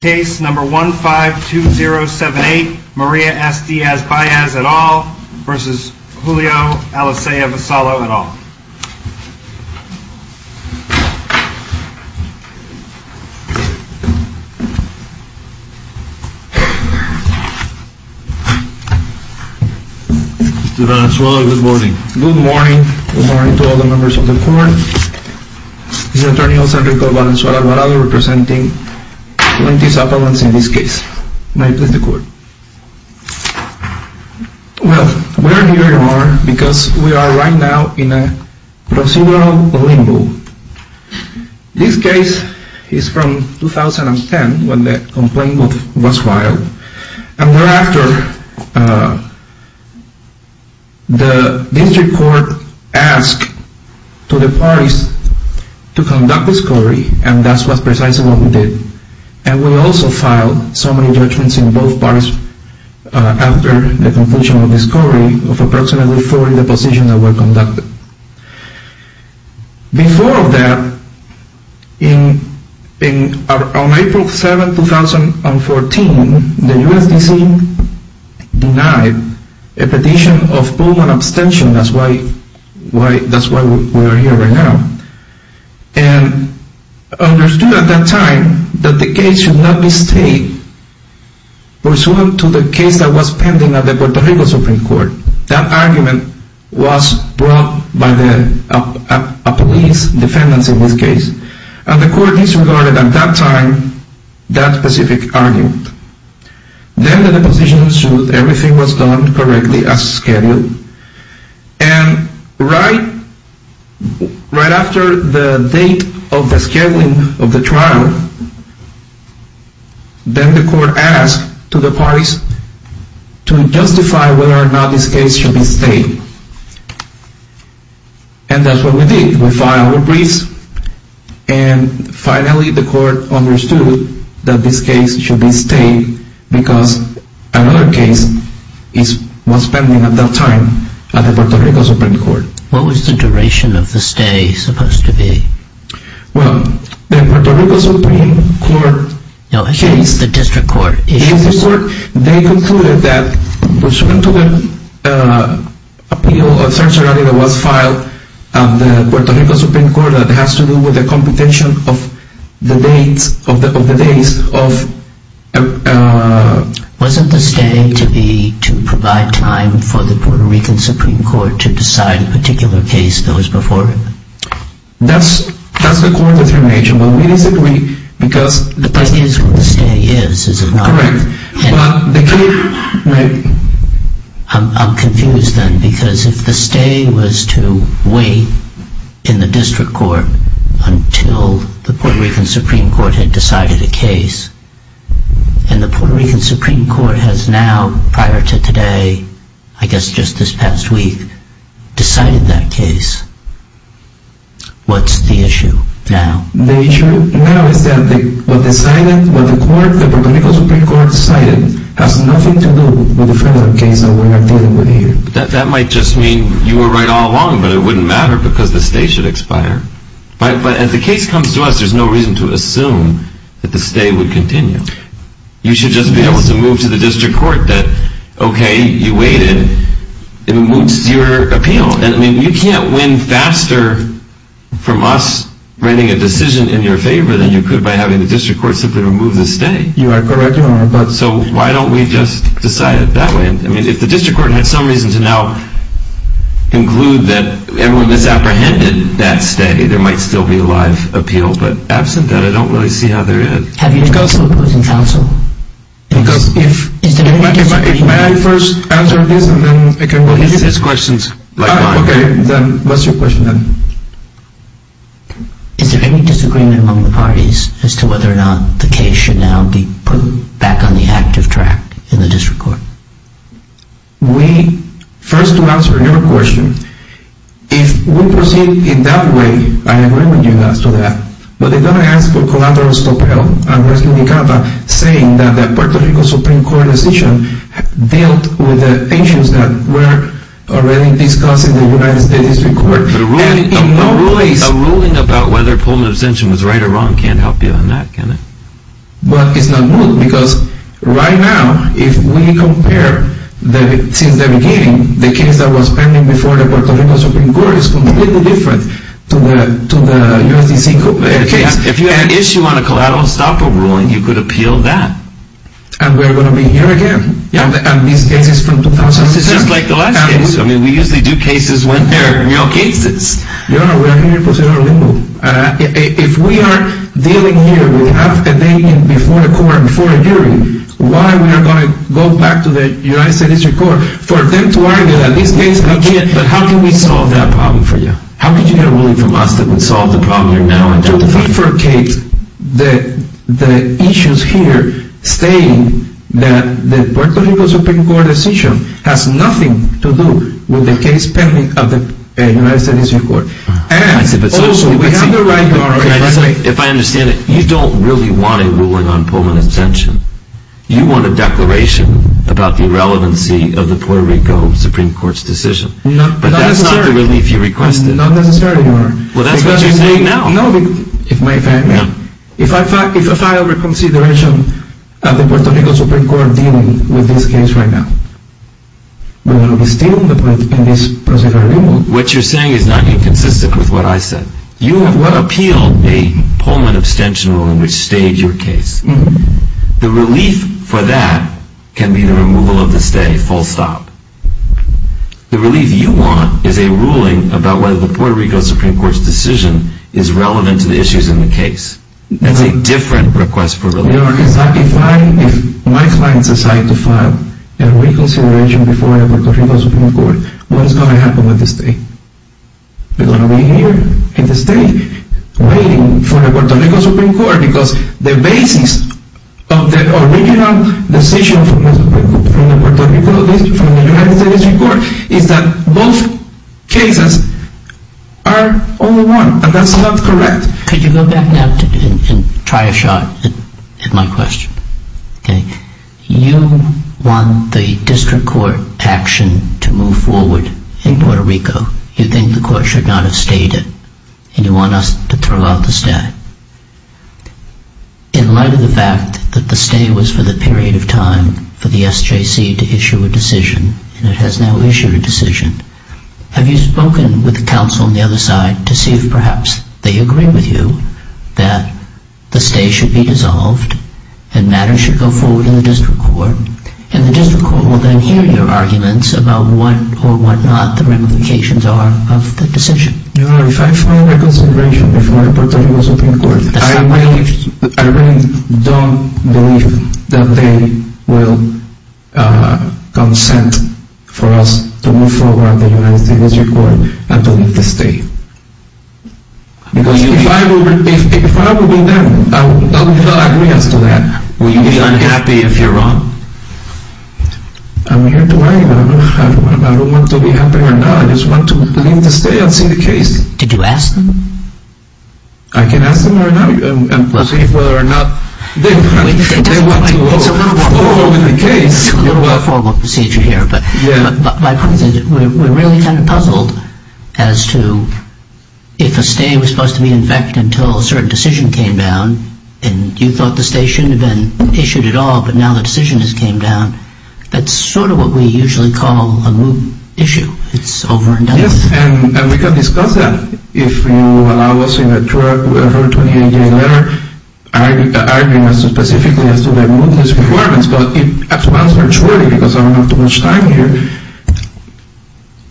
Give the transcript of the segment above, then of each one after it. Case No. 152078, Maria S. Diaz-Baez et al. v. Julio Alicea-Vasallo et al. Mr. Valenzuela, good morning. Good morning. Good morning to all the members of the court. This is attorney Jose Enrico Valenzuela Varado representing 20 supplements in this case. May I please the court? Well, we are here because we are right now in a procedural limbo. This case is from 2010 when the complaint was filed. And thereafter, the district court asked to the parties to conduct discovery and that's precisely what we did. And we also filed so many judgments in both parties after the conclusion of discovery of approximately 40 depositions that were conducted. Before that, on April 7, 2014, the USDC denied a petition of Pullman abstention. That's why we are here right now. And understood at that time that the case should not be stayed pursuant to the case that was pending at the Puerto Rico Supreme Court. That argument was brought by a police defendant in this case. And the court disregarded at that time that specific argument. Then the deposition was sued. Everything was done correctly as scheduled. And right after the date of the scheduling of the trial, then the court asked to the parties to justify whether or not this case should be stayed. And that's what we did. And finally the court understood that this case should be stayed because another case was pending at that time at the Puerto Rico Supreme Court. What was the duration of the stay supposed to be? Well, the Puerto Rico Supreme Court... No, excuse me, it's the district court issue. District court, they concluded that pursuant to the appeal or search warrant that was filed at the Puerto Rico Supreme Court that has to do with the competition of the dates of... Wasn't the stay to be to provide time for the Puerto Rican Supreme Court to decide a particular case that was before it? That's the court determination, but we disagree because... But that is what the stay is, is it not? Correct. But the case... I'm confused then because if the stay was to wait in the district court until the Puerto Rican Supreme Court had decided a case and the Puerto Rican Supreme Court has now, prior to today, I guess just this past week, decided that case, what's the issue now? The issue now is that what the Puerto Rico Supreme Court decided has nothing to do with the federal case that we're dealing with here. That might just mean you were right all along, but it wouldn't matter because the stay should expire. But as the case comes to us, there's no reason to assume that the stay would continue. You should just be able to move to the district court that, okay, you waited, and it moves to your appeal. I mean, you can't win faster from us bringing a decision in your favor than you could by having the district court simply remove the stay. You are correct, Your Honor. So why don't we just decide it that way? I mean, if the district court had some reason to now conclude that everyone has apprehended that stay, there might still be a live appeal. But absent that, I don't really see how there is. Have you discussed opposing counsel? Because if... Is there any disagreement? May I first answer this and then I can... Well, he says questions. Okay, then what's your question then? Is there any disagreement among the parties as to whether or not the case should now be put back on the active track in the district court? We, first to answer your question, if we proceed in that way, I agree with you as to that. But they're going to ask for collateral stop help. And we're still in Canada saying that the Puerto Rico Supreme Court decision dealt with the issues that were already discussed in the United States district court. But a ruling about whether Pullman abstention was right or wrong can't help you on that, can it? But it's not good, because right now, if we compare, since the beginning, the case that was pending before the Puerto Rico Supreme Court is completely different to the U.S. D.C. case. If you had an issue on a collateral stop rule, you could appeal that. And we're going to be here again. And these cases from 2006... It's just like the last case. I mean, we usually do cases when they're real cases. You're right. We're here to pursue our legal. If we are dealing here, we have a debating before a court, before a jury, why are we going to go back to the United States district court for them to argue that this case... Okay, but how can we solve that problem for you? How could you get a ruling from us that would solve the problem you're now in? Just to defecate, the issues here state that the Puerto Rico Supreme Court decision has nothing to do with the case pending at the United States district court. And also, we have the right to our respect... If I understand it, you don't really want a ruling on Pullman abstention. You want a declaration about the irrelevancy of the Puerto Rico Supreme Court's decision. Not necessarily. But that's not the relief you requested. Not necessarily, Your Honor. Well, that's what you're saying now. No, but if I over-consideration of the Puerto Rico Supreme Court dealing with this case right now, we're going to be stealing the point in this procedural removal. What you're saying is not even consistent with what I said. You have appealed a Pullman abstention ruling which stayed your case. The relief for that can be the removal of the stay, full stop. The relief you want is a ruling about whether the Puerto Rico Supreme Court's decision is relevant to the issues in the case. That's a different request for relief. Your Honor, if my clients decide to file a reconsideration before the Puerto Rico Supreme Court, what is going to happen with the state? We're going to be here in the state waiting for the Puerto Rico Supreme Court because the basis of the original decision from the Puerto Rico district, from the United States Supreme Court, is that both cases are all one. And that's not correct. Could you go back now and try a shot at my question? You want the district court action to move forward in Puerto Rico. You think the court should not have stayed it. And you want us to throw out the stay. In light of the fact that the stay was for the period of time for the SJC to issue a decision, and it has now issued a decision, have you spoken with the counsel on the other side to see if perhaps they agree with you that the stay should be dissolved and matters should go forward in the district court. And the district court will then hear your arguments about what or what not the ramifications are of the decision. Your Honor, if I file a reconsideration before the Puerto Rico Supreme Court, I really don't believe that they will consent for us to move forward the United States district court and to leave the state. Because if I were them, I would not agree as to that. Will you be unhappy if you're wrong? I'm here to argue. I don't want to be happy or not. I just want to leave the state and see the case. Did you ask them? I can ask them right now and see whether or not they want to go forward with the case. We're really kind of puzzled as to if a stay was supposed to be in effect until a certain decision came down, and you thought the stay shouldn't have been issued at all, but now the decision has came down. That's sort of what we usually call a moot issue. It's over and done with. And we can discuss that if you allow us in a 28-day letter arguments specifically as to the mootness requirements. But at once, virtually, because I don't have too much time here,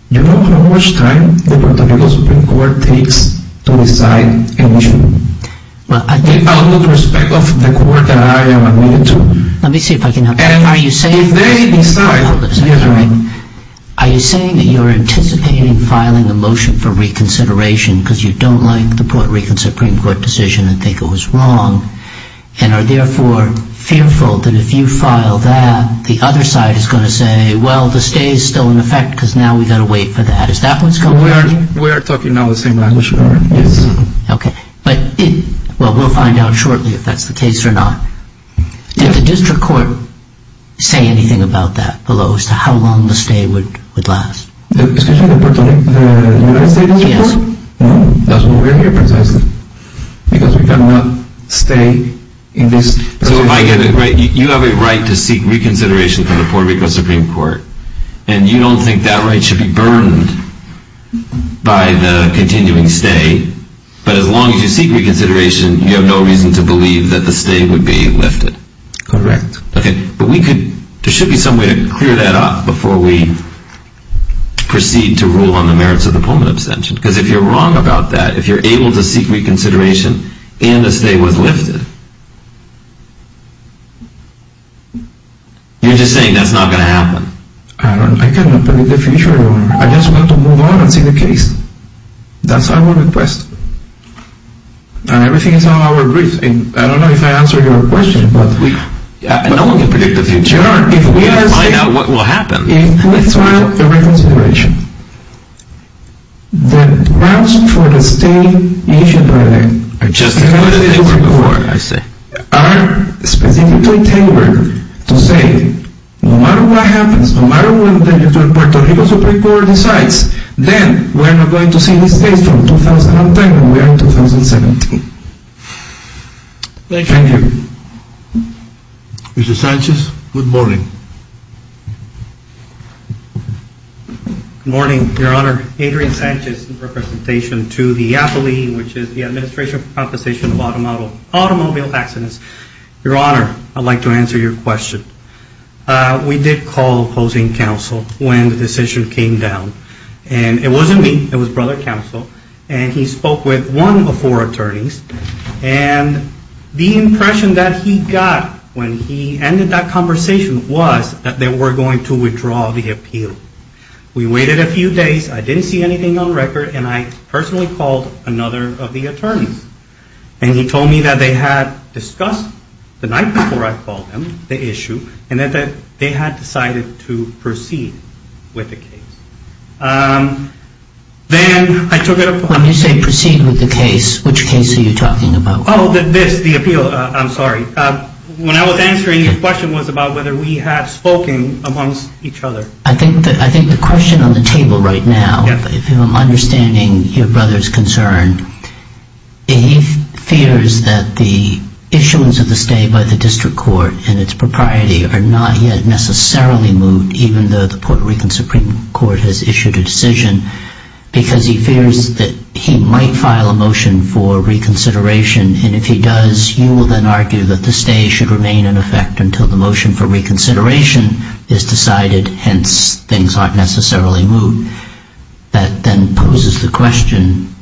do you know how much time the Puerto Rico Supreme Court takes to decide an issue? Well, I do. With all due respect of the court that I am admitted to. Let me see if I can help. Are you saying that you're anticipating filing a motion for reconsideration because you don't like the Puerto Rico Supreme Court decision and think it was wrong, and are therefore fearful that if you file that, the other side is going to say, well, the stay is still in effect because now we've got to wait for that? Is that what's going on? We are talking now the same language. Okay. Well, we'll find out shortly if that's the case or not. Did the district court say anything about that below as to how long the stay would last? Excuse me, the Puerto Rico Supreme Court? Yes. That's why we're here precisely, because we cannot stay in this. So if I get it right, you have a right to seek reconsideration from the Puerto Rico Supreme Court, and you don't think that right should be burdened by the continuing stay. But as long as you seek reconsideration, you have no reason to believe that the stay would be lifted. Correct. Okay. But there should be some way to clear that up before we proceed to rule on the merits of the Pullman abstention. Because if you're wrong about that, if you're able to seek reconsideration and the stay was lifted, you're just saying that's not going to happen. I cannot predict the future. I just want to move on and see the case. That's our request. And everything is on our brief. I don't know if I answered your question, but we... No one can predict the future. If we ask... We have to find out what will happen. If we file a reconsideration, the grounds for the stay issued by the... I just included it in the report, I see. ...are specifically tailored to say no matter what happens, no matter what the Puerto Rico Supreme Court decides, then we're not going to see this case from 2010 when we are in 2017. Thank you. Thank you. Mr. Sanchez, good morning. Good morning, Your Honor. Adrian Sanchez, in representation to the APALE, which is the Administration for Proposition of Automobile Accidents. Your Honor, I'd like to answer your question. We did call opposing counsel when the decision came down. And it wasn't me. It was brother counsel. And he spoke with one of four attorneys. And the impression that he got when he ended that conversation was that they were going to withdraw the appeal. We waited a few days. I didn't see anything on record. And I personally called another of the attorneys. And he told me that they had discussed the night before I called them, the issue, and that they had decided to proceed with the case. Then I took it upon... When you say proceed with the case, which case are you talking about? Oh, this, the appeal. I'm sorry. When I was answering, your question was about whether we had spoken amongst each other. I think the question on the table right now, if I'm understanding your brother's concern, he fears that the issuance of the stay by the district court and its propriety are not yet necessarily moved, even though the Puerto Rican Supreme Court has issued a decision, because he fears that he might file a motion for reconsideration. And if he does, you will then argue that the stay should remain in effect until the motion for reconsideration is decided, hence things aren't necessarily moved. That then poses the question,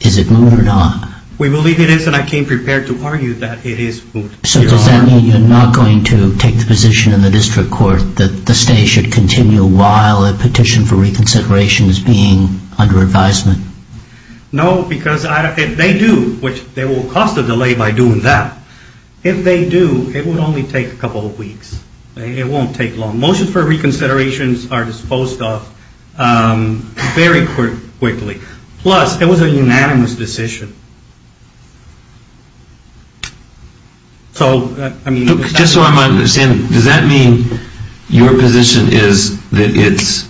is it moved or not? We believe it is, and I came prepared to argue that it is moved. So does that mean you're not going to take the position in the district court that the stay should continue while a petition for reconsideration is being under advisement? No, because if they do, which they will cost a delay by doing that, if they do, it will only take a couple of weeks. It won't take long. Motions for reconsideration are disposed of very quickly. Plus, it was a unanimous decision. Just so I'm understanding, does that mean your position is that it's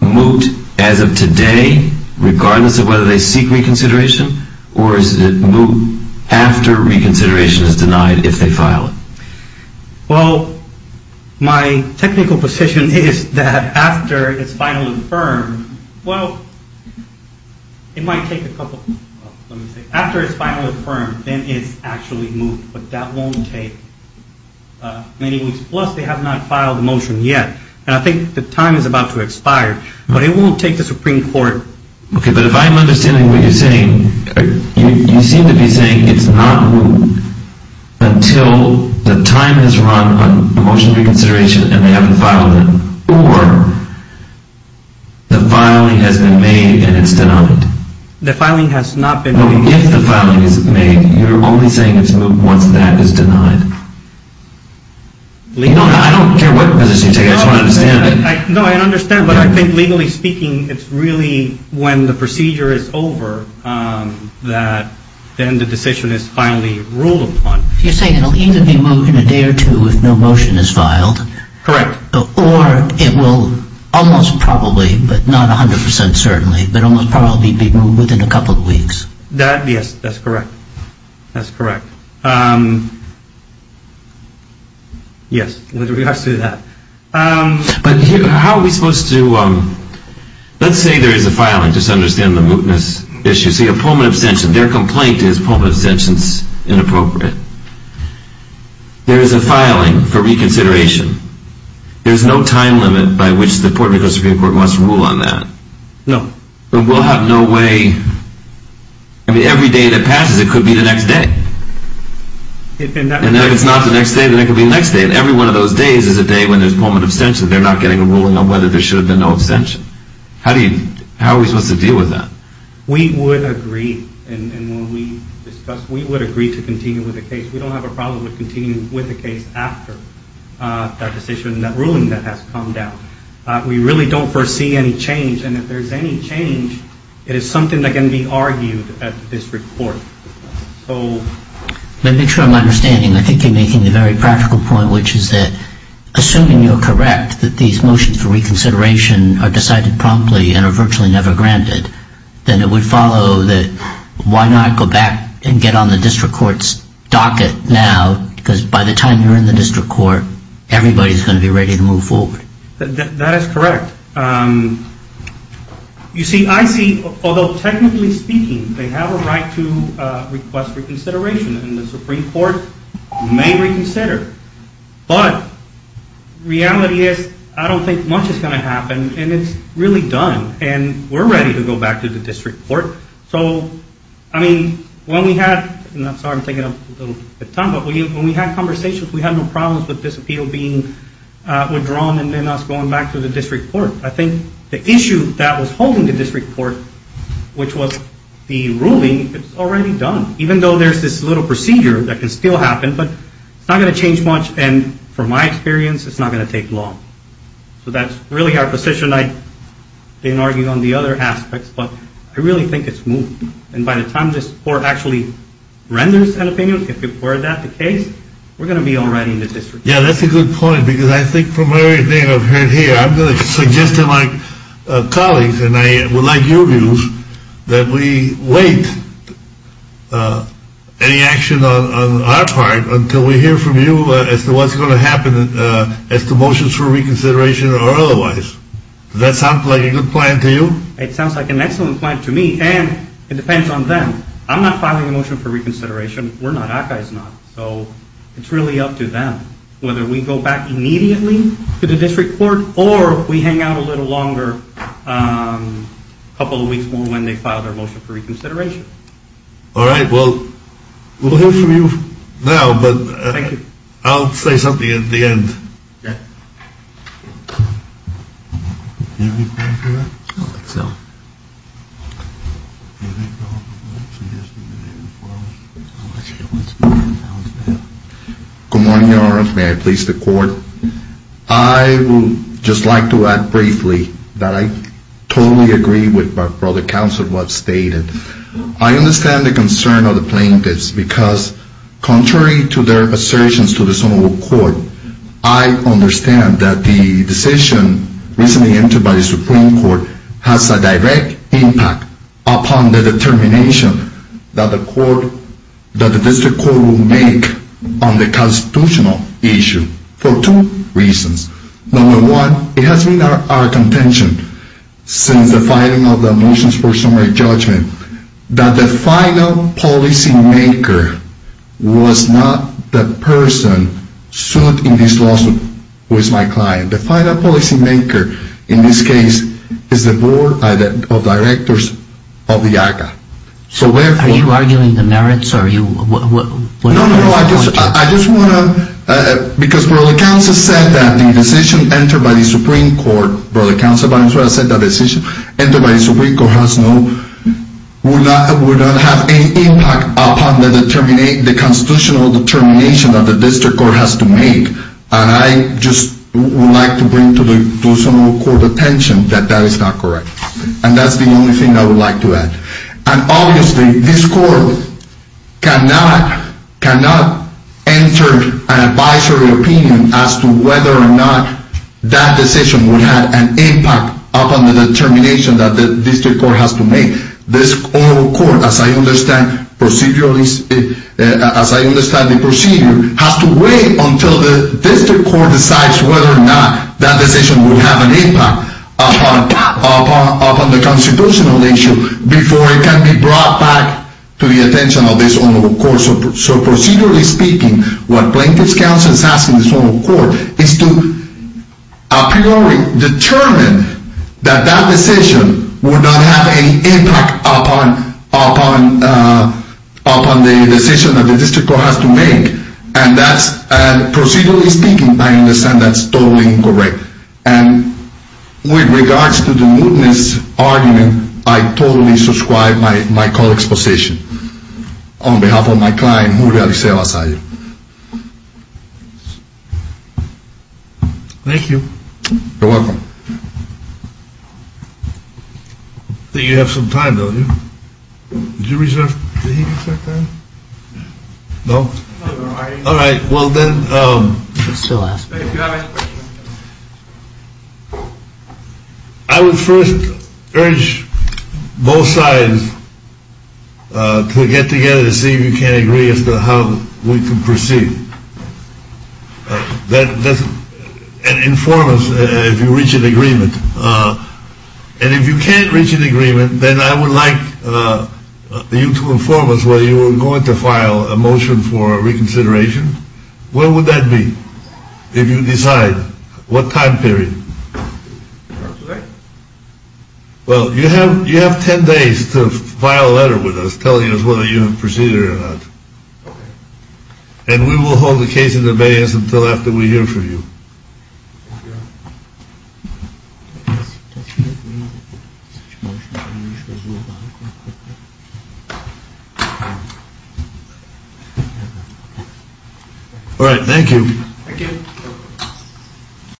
moved as of today, regardless of whether they seek reconsideration, or is it moved after reconsideration is denied if they file it? Well, my technical position is that after it's final and firm, well, it might take a couple of weeks. After it's final and firm, then it's actually moved, but that won't take many weeks. Plus, they have not filed the motion yet, and I think the time is about to expire, but it won't take the Supreme Court. Okay, but if I'm understanding what you're saying, you seem to be saying it's not moved until the time has run on a motion for reconsideration and they haven't filed it, or the filing has been made and it's denied. The filing has not been made. If the filing isn't made, you're only saying it's moved once that is denied. No, I don't care what position you take. I just want to understand. No, I understand, but I think legally speaking, it's really when the procedure is over that then the decision is finally ruled upon. You're saying it will either be moved in a day or two if no motion is filed. Correct. Or it will almost probably, but not 100% certainly, but almost probably be moved within a couple of weeks. That, yes, that's correct. That's correct. Yes, with regards to that. But how are we supposed to, let's say there is a filing. Just understand the mootness issue. See, a Pullman abstention, their complaint is Pullman abstention is inappropriate. There is a filing for reconsideration. There is no time limit by which the Supreme Court must rule on that. No. But we'll have no way, I mean every day that passes it could be the next day. And if it's not the next day, then it could be the next day. And every one of those days is a day when there's Pullman abstention. They're not getting a ruling on whether there should have been no abstention. How are we supposed to deal with that? We would agree, and when we discuss, we would agree to continue with the case. We don't have a problem with continuing with the case after that decision, that ruling that has come down. We really don't foresee any change. And if there's any change, it is something that can be argued at this report. Let me make sure I'm understanding. I think you're making the very practical point, which is that assuming you're correct, that these motions for reconsideration are decided promptly and are virtually never granted, then it would follow that why not go back and get on the district court's docket now, because by the time you're in the district court, everybody's going to be ready to move forward. That is correct. You see, I see, although technically speaking, they have a right to request reconsideration, and the Supreme Court may reconsider. But reality is, I don't think much is going to happen, and it's really done, and we're ready to go back to the district court. So, I mean, when we had conversations, we had no problems with this appeal being withdrawn and then us going back to the district court. I think the issue that was holding the district court, which was the ruling, it's already done. Even though there's this little procedure that can still happen, but it's not going to change much, and from my experience, it's not going to take long. So that's really our position. I didn't argue on the other aspects, but I really think it's moved. And by the time this court actually renders an opinion, if you've heard that, the case, we're going to be already in the district court. Yeah, that's a good point, because I think from everything I've heard here, I'm going to suggest to my colleagues, and I would like your views, that we wait any action on our part until we hear from you as to what's going to happen as to motions for reconsideration or otherwise. Does that sound like a good plan to you? It sounds like an excellent plan to me, and it depends on them. I'm not filing a motion for reconsideration. We're not. ACCA is not. So it's really up to them. Whether we go back immediately to the district court, or we hang out a little longer, a couple of weeks more, when they file their motion for reconsideration. All right. Well, we'll hear from you now, but I'll say something at the end. Yeah. Good morning, Your Honor. May I please the court? I would just like to add briefly that I totally agree with what Brother Counsel has stated. I understand the concern of the plaintiffs, because contrary to their assertions to the Sonoma Court, I understand that the decision recently entered by the Supreme Court has a direct impact upon the determination that the district court will make on the constitutional issue for two reasons. Number one, it has been our contention since the filing of the motions for summary judgment that the final policymaker was not the person sued in this lawsuit, who is my client. The final policymaker in this case is the board of directors of the ACCA. Are you arguing the merits? No, no, no. I just want to, because Brother Counsel said that the decision entered by the Supreme Court, will not have any impact upon the constitutional determination that the district court has to make. And I just would like to bring to the Sonoma Court attention that that is not correct. And that's the only thing I would like to add. And obviously, this court cannot enter an advisory opinion as to whether or not that decision would have an impact upon the determination that the district court has to make. This Sonoma Court, as I understand the procedure, has to wait until the district court decides whether or not that decision would have an impact upon the constitutional issue before it can be brought back to the attention of this Sonoma Court. So procedurally speaking, what Plaintiff's Counsel is asking the Sonoma Court is to, a priori, determine that that decision would not have any impact upon the decision that the district court has to make. And procedurally speaking, I understand that's totally incorrect. And with regards to the mootness argument, I totally subscribe my colleague's position. On behalf of my client, Julio Alicia Vasallo. Thank you. You're welcome. I think you have some time, don't you? Did he reserve time? No? All right. Well then, I would first urge both sides to get together to see if you can agree as to how we can proceed. And inform us if you reach an agreement. And if you can't reach an agreement, then I would like you to inform us whether you are going to file a motion for reconsideration. When would that be? If you decide. What time period? Well, you have ten days to file a letter with us telling us whether you have proceeded or not. And we will hold the case in abeyance until after we hear from you. All right, thank you. Thank you.